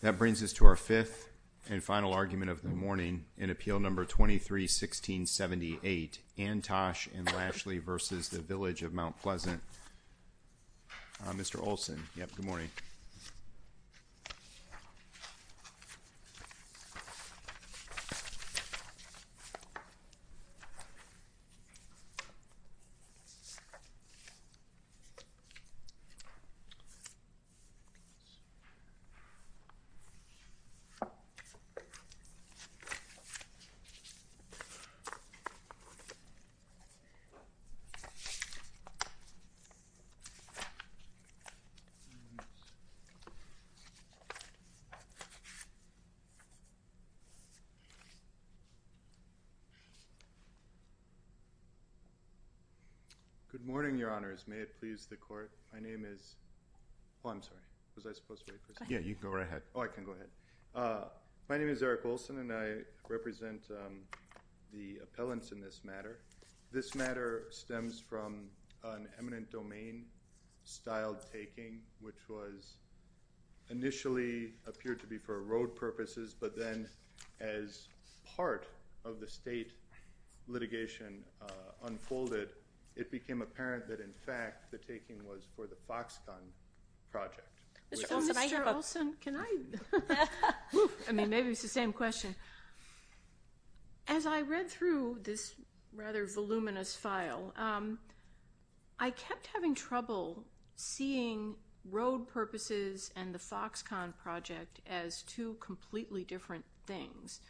That brings us to our fifth and final argument of the morning in Appeal No. 23-1678, Antosh and Lashley v. Village of Mount Pleasant. Mr. Olsen. Yep, good morning. Good morning, Your Honors. May it please the Court, my name is, oh, I'm sorry, was I supposed to wait? Yeah, you can go right ahead. Oh, I can go ahead. My name is Eric Olsen and I represent the appellants in this matter. This matter stems from an eminent domain-styled taking which was initially appeared to be for road purposes, but then as part of the state litigation unfolded, it became apparent that, in fact, the taking was for the Foxconn project. Mr. Olsen, can I? I mean, maybe it's the same question. As I read through this rather voluminous file, I kept having trouble seeing road purposes and the Foxconn project as two completely different things.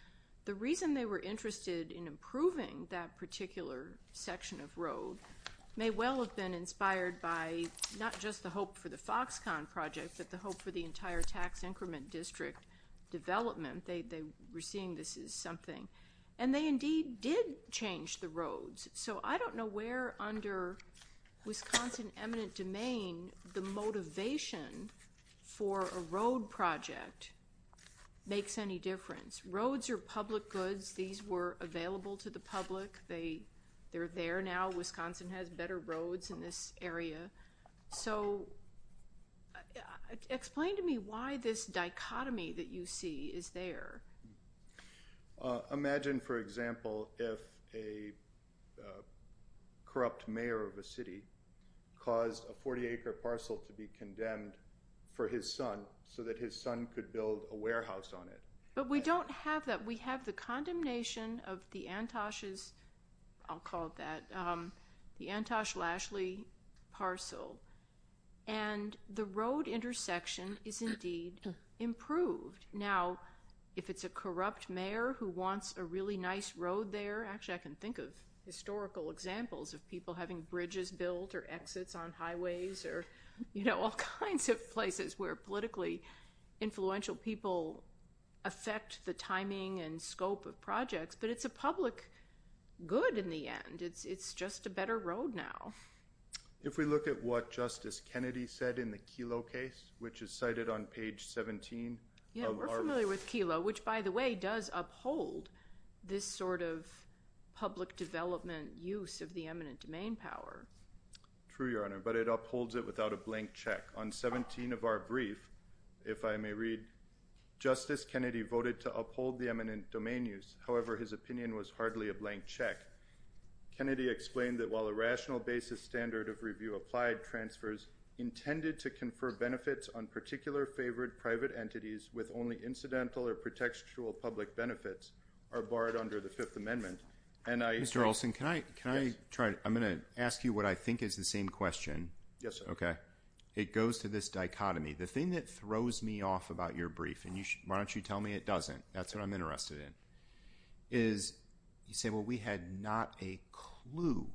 The reason they were interested in improving that particular section of road may well have been inspired by not just the hope for the Foxconn project, but the hope for the entire tax increment district development. They were seeing this as something. And they indeed did change the roads. So I don't know where under Wisconsin eminent domain the motivation for a road project makes any difference. Roads are public goods. These were available to the public. They're there now. Wisconsin has better roads in this area. So explain to me why this dichotomy that you see is there. Imagine, for example, if a corrupt mayor of a city caused a 40-acre parcel to be condemned for his son so that his son could build a warehouse on it. But we don't have that. We have a Josh Lashley parcel. And the road intersection is indeed improved. Now, if it's a corrupt mayor who wants a really nice road there, actually, I can think of historical examples of people having bridges built or exits on highways or all kinds of places where politically influential people affect the timing and scope of projects. But it's a public good in the end. It's just a better road now. If we look at what Justice Kennedy said in the Kelo case, which is cited on page 17. Yeah, we're familiar with Kelo, which, by the way, does uphold this sort of public development use of the eminent domain power. True, Your Honor. But it upholds it without a blank check. On 17 of our brief, if I may Kennedy explained that while a rational basis standard of review applied transfers intended to confer benefits on particular favored private entities with only incidental or pretextual public benefits are barred under the Fifth Amendment. And I Mr. Olson, can I try? I'm going to ask you what I think is the same question. Yes, sir. Okay. It goes to this dichotomy. The thing that throws me off about your brief, and why don't you tell me it doesn't, that's what I'm interested in, is you say, well, we had not a clue.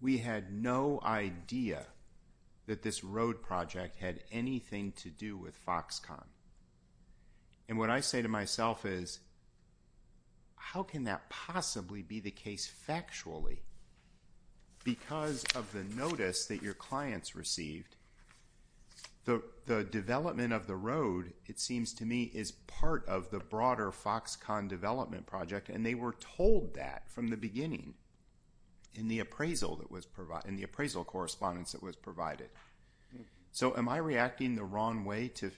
We had no idea that this road project had anything to do with Foxconn. And what I say to myself is, how can that possibly be the case factually? Because of the notice that your clients received, the development of the road, it seems to me, is part of the broader Foxconn development project. And they were told that from the beginning in the appraisal that was provided, in the appraisal correspondence that was provided. So am I reacting the wrong way to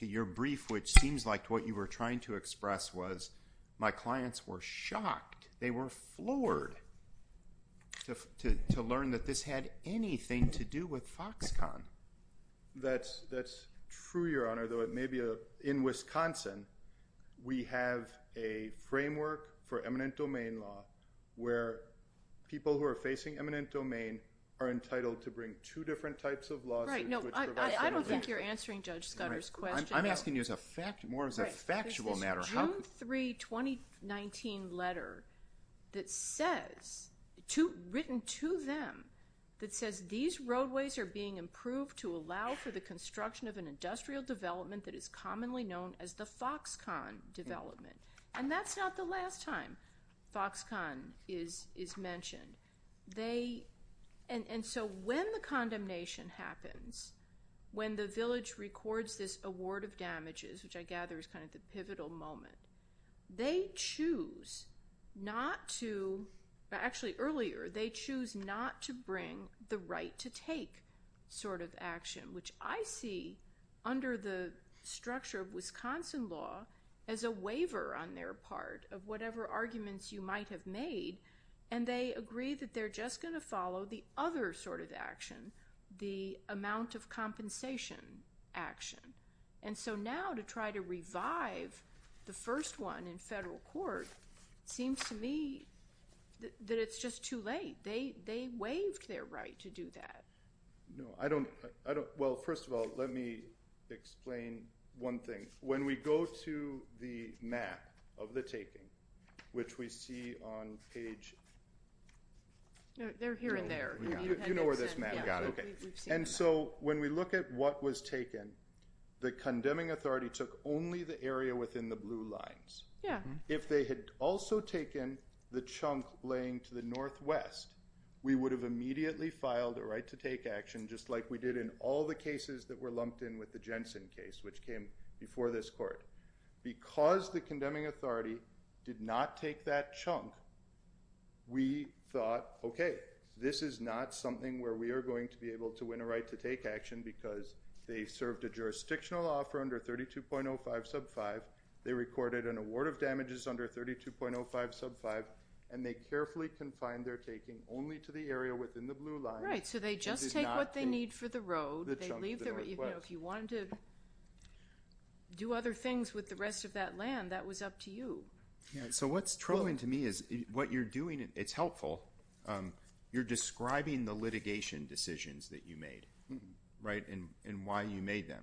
your brief, which seems like what you were trying to express was my clients were with Foxconn. That's true, Your Honor, though it may be in Wisconsin, we have a framework for eminent domain law where people who are facing eminent domain are entitled to bring two different types of lawsuits. Right. No, I don't think you're answering Judge Scudder's question. I'm asking you as a fact, more as a factual matter. There's a June 3, 2019 letter that says, written to them, that says these roadways are being improved to allow for the construction of an industrial development that is commonly known as the Foxconn development. And that's not the last time Foxconn is mentioned. And so when the condemnation happens, when the village records this award of damages, which I gather is kind of the pivotal moment, they choose not to, actually earlier, they choose not to bring the right to take sort of action, which I see under the structure of Wisconsin law as a waiver on their part of whatever arguments you might have made. And they agree that they're just going to follow the other sort of action, the amount of compensation action. And so now to try to revive the first one in federal court seems to me that it's just too late. They waived their right to do that. No, I don't. Well, first of all, let me explain one thing. When we go to the map of the taping, which we see on page... They're here and there. You know where this map is. And so when we look at what was taken, the condemning authority took only the area within the blue lines. If they had also taken the chunk laying to the northwest, we would have immediately filed a right to take action, just like we did in all the cases that were lumped in with the Jensen case, which came before this court. Because the condemning authority did not take that chunk, we thought, okay, this is not something where we are going to be able to win a right to take action because they served a jurisdictional offer under 32.05 sub 5. They recorded an award of damages under 32.05 sub 5. And they carefully confined their taking only to the area within the blue lines. Right. So they just take what they need for the road. If you wanted to do other things with the rest of that land, that was up to you. So what's troubling to me is what you're doing, it's helpful. You're describing the litigation decisions that you made, right, and why you made them.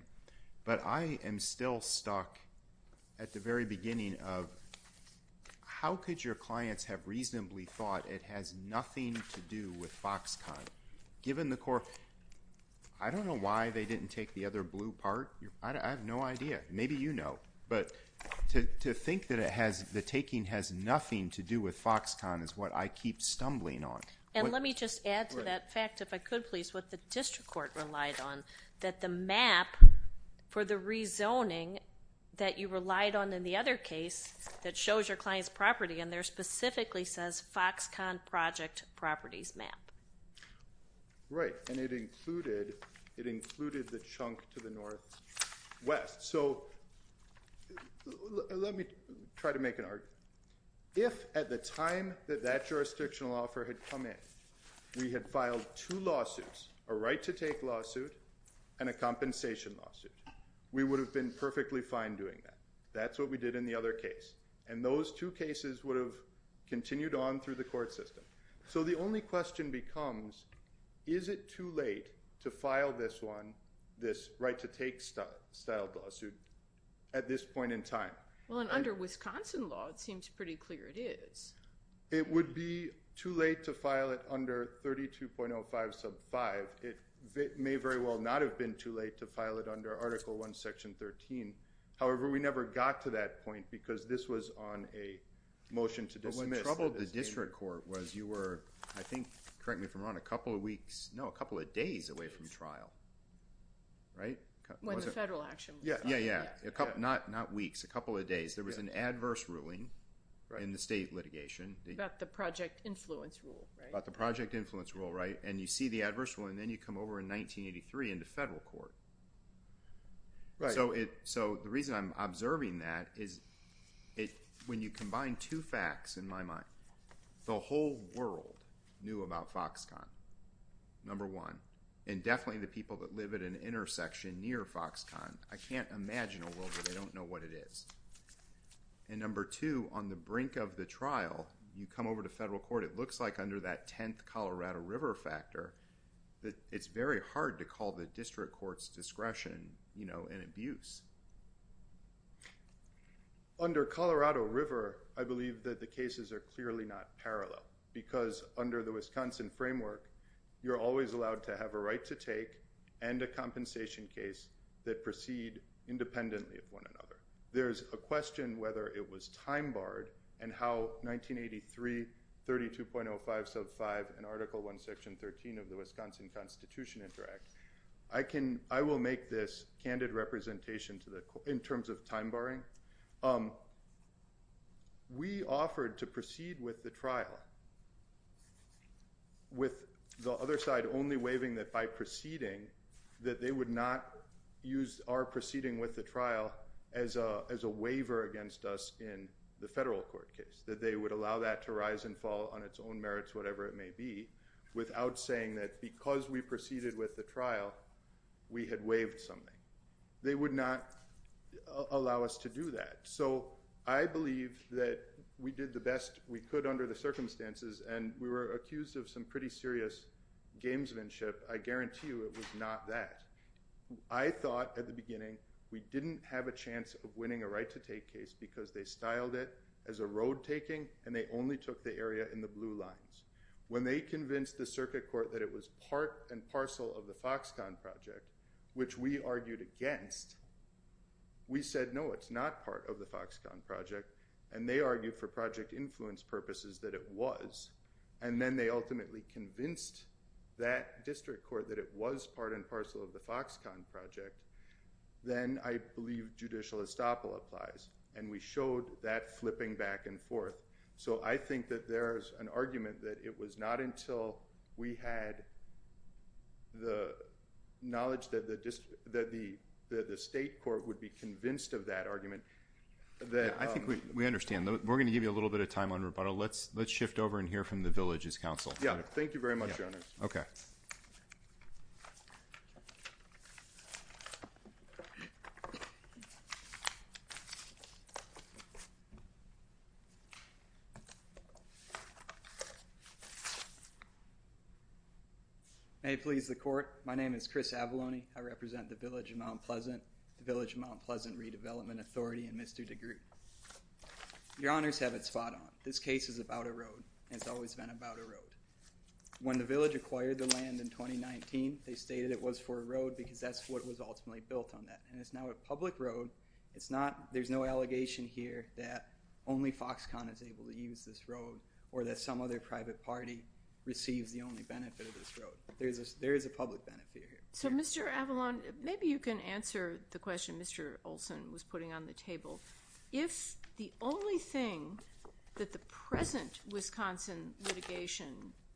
But I am still stuck at the very beginning of how could your clients have reasonably thought it has nothing to do with Foxconn, given the court... I don't know why they have no idea. Maybe you know. But to think that the taking has nothing to do with Foxconn is what I keep stumbling on. And let me just add to that fact, if I could please, what the district court relied on, that the map for the rezoning that you relied on in the other case that shows your client's property in there specifically says Foxconn properties map. Right. And it included the chunk to the northwest. So let me try to make an argument. If at the time that that jurisdictional offer had come in, we had filed two lawsuits, a right to take lawsuit and a compensation lawsuit, we would have been perfectly fine doing that. That's what we did in the other case. And those two cases would have continued on through the court system. So the only question becomes, is it too late to file this one, this right to take style lawsuit at this point in time? Well, under Wisconsin law, it seems pretty clear it is. It would be too late to file it under 32.05 sub 5. It may very well not have been too late to a motion to dismiss. But when they troubled the district court was you were, I think, correct me if I'm wrong, a couple of weeks, no, a couple of days away from trial. Right. When the federal action. Yeah. Yeah. Yeah. A couple, not, not weeks, a couple of days. There was an adverse ruling in the state litigation about the project influence rule about the project influence rule. Right. And you see the adverse one. And then you come over into federal court. Right. So it, so the reason I'm observing that is it, when you combine two facts in my mind, the whole world knew about Foxconn number one, and definitely the people that live at an intersection near Foxconn. I can't imagine a world where they don't know what it is. And number two, on the brink of the trial, you come over to federal court. It looks like under that 10th Colorado river factor that it's very hard to call the district court's discretion, you know, and abuse under Colorado river. I believe that the cases are clearly not parallel because under the Wisconsin framework, you're always allowed to have a right to take and a compensation case that proceed independently of one another. There's a question whether it was time barred and how 1983 32.05 sub five and article one, section 13 of the Wisconsin constitution interact. I can, I will make this candid representation to the, in terms of time barring we offered to proceed with the trial with the other side, only waiving that by proceeding that they would not use our proceeding with the trial as a, as a waiver against us in the federal court case, that they would allow that to rise and fall on its own merits, whatever it may be, without saying that because we proceeded with the trial, we had waived something. They would not allow us to do that. So I believe that we did the best we could under the circumstances. And we were accused of some pretty serious gamesmanship. I guarantee you it was not that I thought at the beginning, we didn't have a chance of winning a right to take case because they styled it as a road taking. And they only took the area in the blue lines when they convinced the circuit court that it was part and parcel of the Foxconn project, which we argued against. We said, no, it's not part of the Foxconn project. And they argued for project influence purposes that it was, and then they ultimately convinced that district court that it was part and parcel of the Foxconn project. Then I believe judicial estoppel applies and we showed that flipping back and forth. So I think that there's an argument that it was not until we had the knowledge that the district, that the, that the state court would be convinced of that argument. That I think we, we understand that we're going to give you a little bit of time on rebuttal. Let's let's shift over and hear from the villages council. Yeah. Thank you very much. Hey, please. The court. My name is Chris Avalone. I represent the village of Mount Pleasant redevelopment authority and Mr. DeGroote. Your honors have it spot on. This case is about a road and it's always been about a road. When the village acquired the land in 2019, they stated it was for a road because that's what was ultimately built on that. And it's now a public road. It's not, there's no allegation here that only Foxconn is able to use this road or that some other private party receives the only benefit of this road. There's a, there is a public benefit here. So Mr. Avalone, maybe you can answer the question Mr. Olson was putting on the table. If the only thing that the present Wisconsin litigation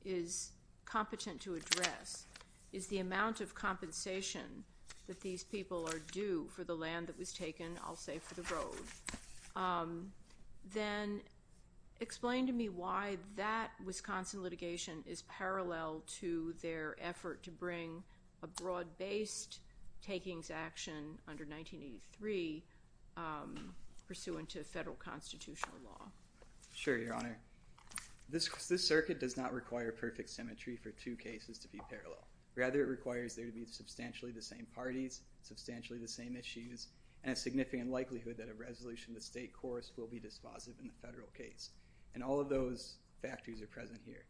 is competent to address is the amount of compensation that these people are due for the land that was taken, I'll say for the road, then explain to me why that Wisconsin litigation is parallel to their effort to bring a broad based takings action under 1983 pursuant to federal constitutional law. Sure, your honor. This circuit does not require perfect symmetry for two cases to be parallel. Rather it requires there to be substantially the same parties, substantially the same issues, and a significant likelihood that a resolution to state course will be dispositive in the federal case. And all of those factors are present here.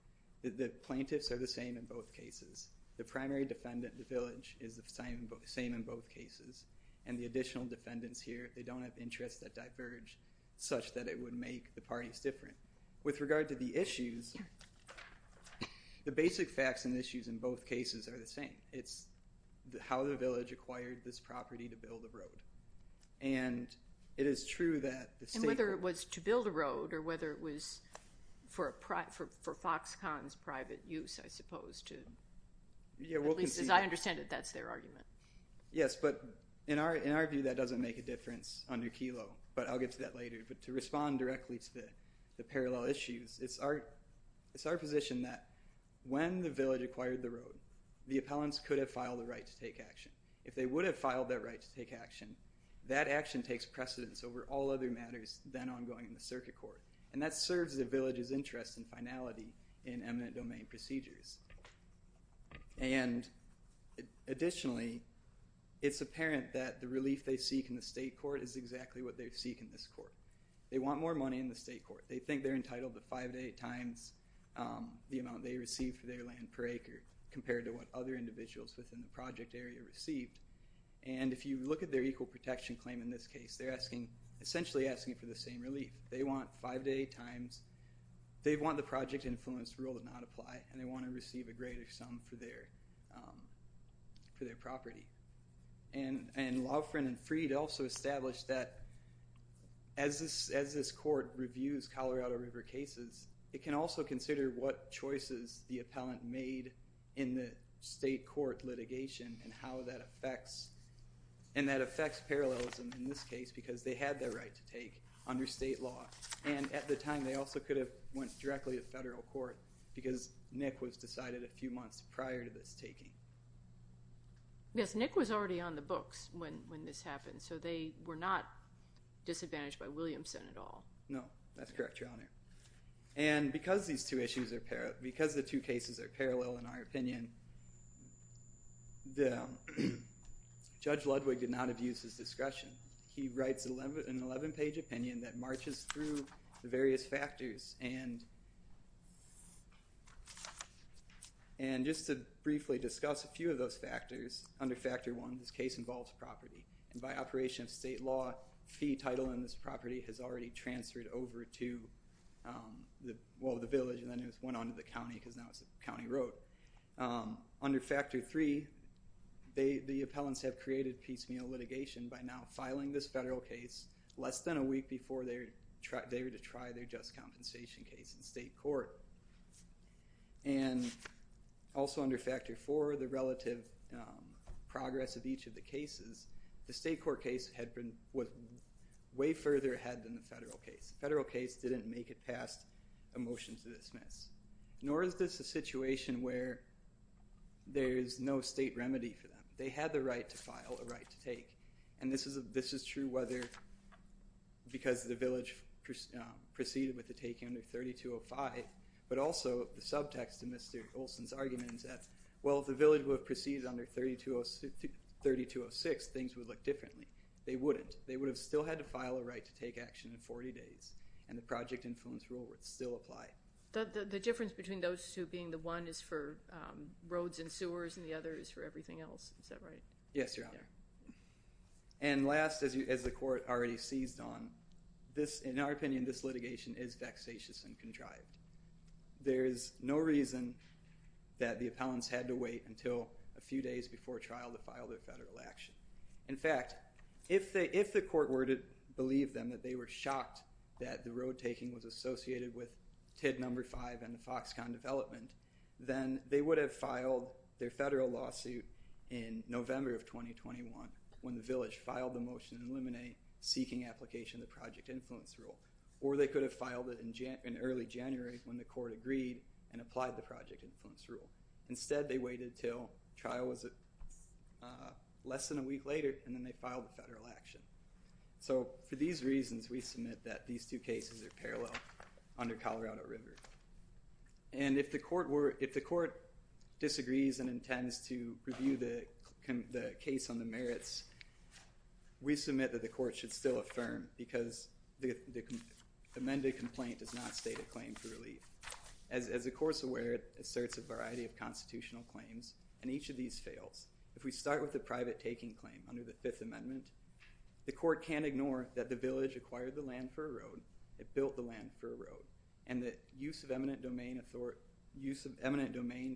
The plaintiffs are the same in both cases. The primary defendant, the village, is the same in both cases. And the additional defendants here, they don't have interests that diverge such that it would make the parties different. With regard to the issues, the basic facts and issues in both cases are the same. It's how the village acquired this property to build a road. And it is true that the state- And whether it was to build a road or whether it was for Foxconn's private use, I suppose, to- At least as I understand it, that's their argument. Yes, but in our view, that doesn't make a difference under Kelo. But I'll get to that later. But to respond directly to the parallel issues, it's our position that when the village acquired the road, the appellants could have filed a right to take action. If they would have filed that right to take action, that action takes precedence over all other matters then ongoing in the circuit court. And that serves the village's interest and finality in eminent domain procedures. And additionally, it's apparent that the relief they seek in the state court is exactly what they seek in this court. They want more money in the state court. They think they're entitled to five to eight times the amount they receive for their land per acre compared to what other individuals within the project area received. And if you look at their equal protection claim in this case, they're asking- essentially asking for the same relief. They want five to eight times- they want the project influence rule to not apply, and they want to receive a greater sum for their property. And Loughran and Freed also established that as this court reviews Colorado River cases, it can also consider what choices the appellant made in the state court litigation and how that affects- and that affects parallelism in this case, because they had their right to take under state law. And at the time, they also could have went directly to federal court because Nick was decided a few months prior to this taking. Yes, Nick was already on the books when when this happened, so they were not disadvantaged by Williamson at all. No, that's correct, Your Honor. And because these two issues are- because the two cases are parallel in our opinion, Judge Ludwig did not have used his discretion. He writes an 11-page opinion that marches through the various factors and- and just to briefly discuss a few of those factors, under Factor 1, this case involves property. And by operation of state law, fee title on this property has already transferred over to the- well, the village, and then it went on to the county because now it's a county road. But under Factor 3, they- the appellants have created piecemeal litigation by now filing this federal case less than a week before they were to try their just compensation case in state court. And also under Factor 4, the relative progress of each of the cases, the state court case had been- was way further ahead than the federal case. The federal case didn't make it past a motion to dismiss. Nor is this a situation where there is no state remedy for them. They had the right to file a right to take. And this is- this is true whether- because the village proceeded with the take under 3205, but also the subtext of Mr. Olson's argument is that, well, if the village would have proceeded under 3206, things would look differently. They wouldn't. They would have still had to file a right to take action in 40 days, and the project influence rule would still apply. The- the difference between those two being the one is for roads and sewers and the other is for everything else. Is that right? Yes, Your Honor. And last, as you- as the court already seized on, this- in our opinion, this litigation is vexatious and contrived. There is no reason that the appellants had to wait until a few days before trial to file their federal action. In fact, if they- if the court were to believe them that they were shocked that the road taking was associated with TID number five and the Foxconn development, then they would have filed their federal lawsuit in November of 2021 when the village filed the motion to eliminate seeking application of the project influence rule. Or they could have filed it in early January when the court agreed and applied the project influence rule. Instead, they waited until trial was less than a week later, and then they filed a federal action. So, for these reasons, we submit that these two cases are parallel under Colorado River. And if the court were- if the court disagrees and intends to review the case on the merits, we submit that the court should still affirm because the amended complaint does not state a claim for relief. As the court's aware, it asserts a variety of constitutional claims, and each of these fails. If we start with the private taking claim under the Fifth Amendment, the court can't ignore that the village acquired the land for a road, it built the land for a road, and the use of eminent domain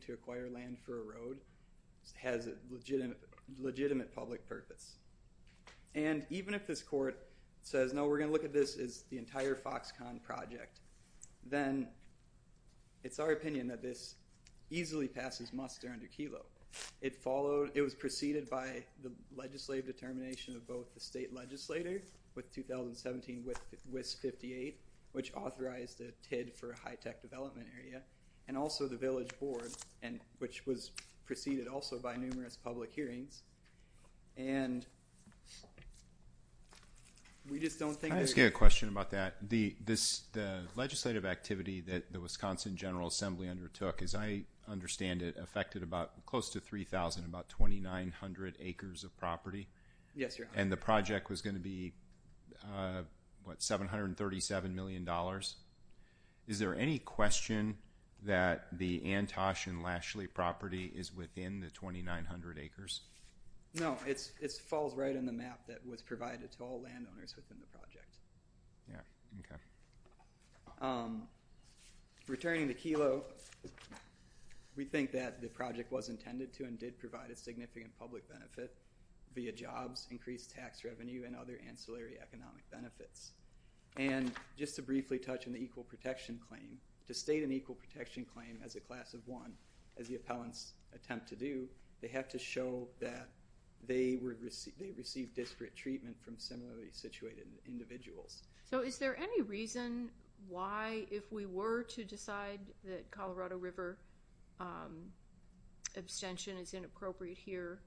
to acquire land for a road has a legitimate public purpose. And even if this court says, no, we're going to look at this as the entire Foxconn project, then it's our opinion that this easily passes muster under Kelo. It followed- it was preceded by the legislative determination of both the state legislator with 2017 WIS 58, which authorized a TID for a high-tech development area, and also the village board, which was preceded also by numerous public hearings. And we just don't think- Can I just get a question about that? This legislative activity that the Wisconsin General Assembly undertook, as I understand it, affected about- close to 3,000, about 2,900 acres of property. And the project was going to be, what, $737 million? Is there any question that the Antosh and Lashley property is within the 2,900 acres? No, it falls right on the map that was provided to all landowners within the project. Yeah, okay. Returning to Kelo, we think that the project was intended to and did provide a significant public benefit via jobs, increased tax revenue, and other ancillary economic benefits. And just to briefly touch on the equal protection claim, to state an equal protection claim as a class of one, as the appellants attempt to do, they have to show that they received disparate treatment from similarly situated individuals. So is there any reason why, if we were to decide that Colorado River abstention is inappropriate here,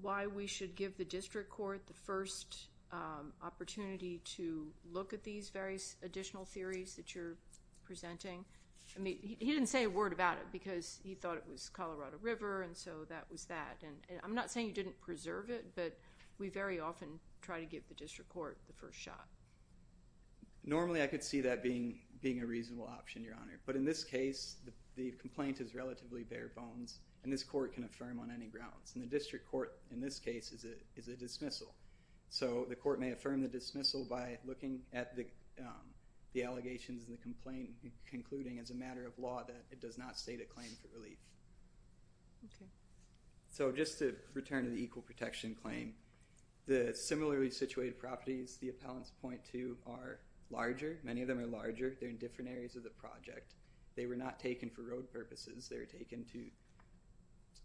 why we should give the district court the first opportunity to look at these various additional theories that you're presenting? I mean, he didn't say a word about it because he thought it was Colorado River, and so that was I'm not saying you didn't preserve it, but we very often try to give the district court the first shot. Normally, I could see that being a reasonable option, Your Honor. But in this case, the complaint is relatively bare bones, and this court can affirm on any grounds. And the district court, in this case, is a dismissal. So the court may affirm the dismissal by looking at the allegations in the complaint, concluding as a matter of law that it does not state a claim for relief. Okay. So just to return to the equal protection claim, the similarly situated properties the appellants point to are larger. Many of them are larger. They're in different areas of the project. They were not taken for road purposes. They were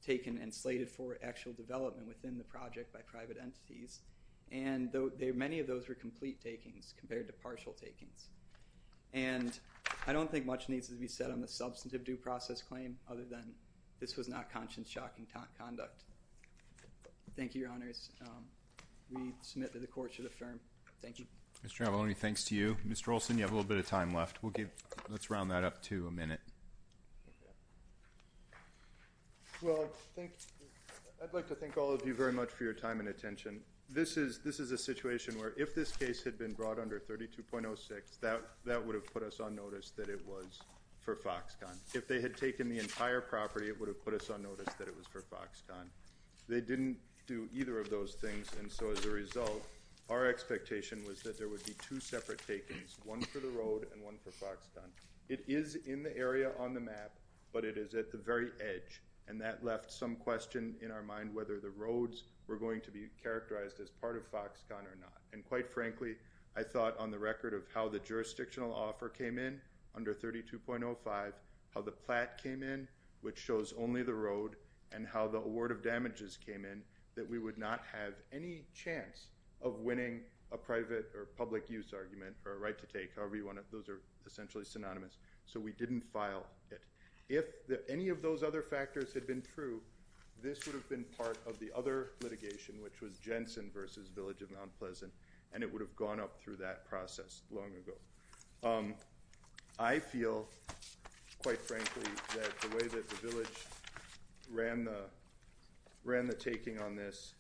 taken and slated for actual development within the project by private entities. And many of those were complete takings compared to partial takings. And I don't think much needs to be said on the substantive due process claim other than this was not conscience shocking conduct. Thank you, Your Honors. We submit that the court should affirm. Thank you. Mr. Avalone, thanks to you. Mr. Olson, you have a little bit of time left. Let's round that up to a minute. Well, I'd like to thank all of you very much for your time and attention. This is a situation where if this case had been brought under 32.06, that would have put us on for Foxconn. If they had taken the entire property, it would have put us on notice that it was for Foxconn. They didn't do either of those things. And so as a result, our expectation was that there would be two separate takings, one for the road and one for Foxconn. It is in the area on the map, but it is at the very edge. And that left some question in our mind whether the roads were going to be characterized as part of Foxconn or not. And quite frankly, I thought on the record of how the jurisdictional offer came in under 32.05, how the plat came in, which shows only the road, and how the award of damages came in, that we would not have any chance of winning a private or public use argument or a right to take however you want it. Those are essentially synonymous. So we didn't file it. If any of those other factors had been true, this would have been part of the other litigation, which was Jensen versus Village of Mount Pleasant. And it would have gone up through that process long ago. I feel, quite frankly, that the way that the Village ran the taking on this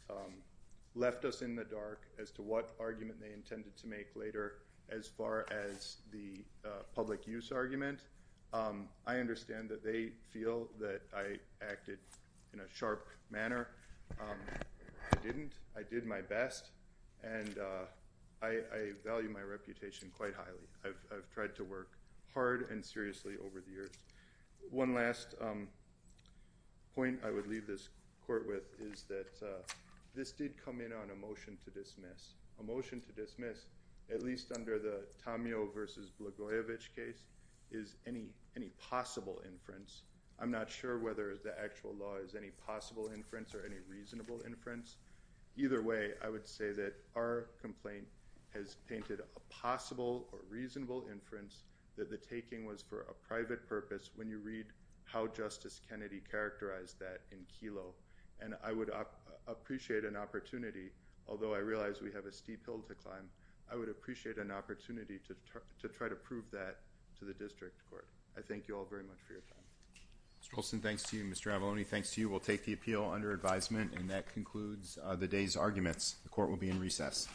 left us in the dark as to what argument they intended to make later as far as the public use argument. I understand that they feel that I acted in a sharp manner. I didn't. I did my best. And I value my hard and seriously over the years. One last point I would leave this court with is that this did come in on a motion to dismiss. A motion to dismiss, at least under the Tamio versus Blagojevich case, is any possible inference. I'm not sure whether the actual law is any possible inference or any reasonable inference. Either way, I would say that our complaint has painted a possible or reasonable inference that the taking was for a private purpose when you read how Justice Kennedy characterized that in Kelo. And I would appreciate an opportunity, although I realize we have a steep hill to climb, I would appreciate an opportunity to try to prove that to the district court. I thank you all very much for your time. Mr. Olson, thanks to you. Mr. Avalone, thanks to you. We'll take the appeal under advisement. And that concludes the day's arguments. The court will be in recess.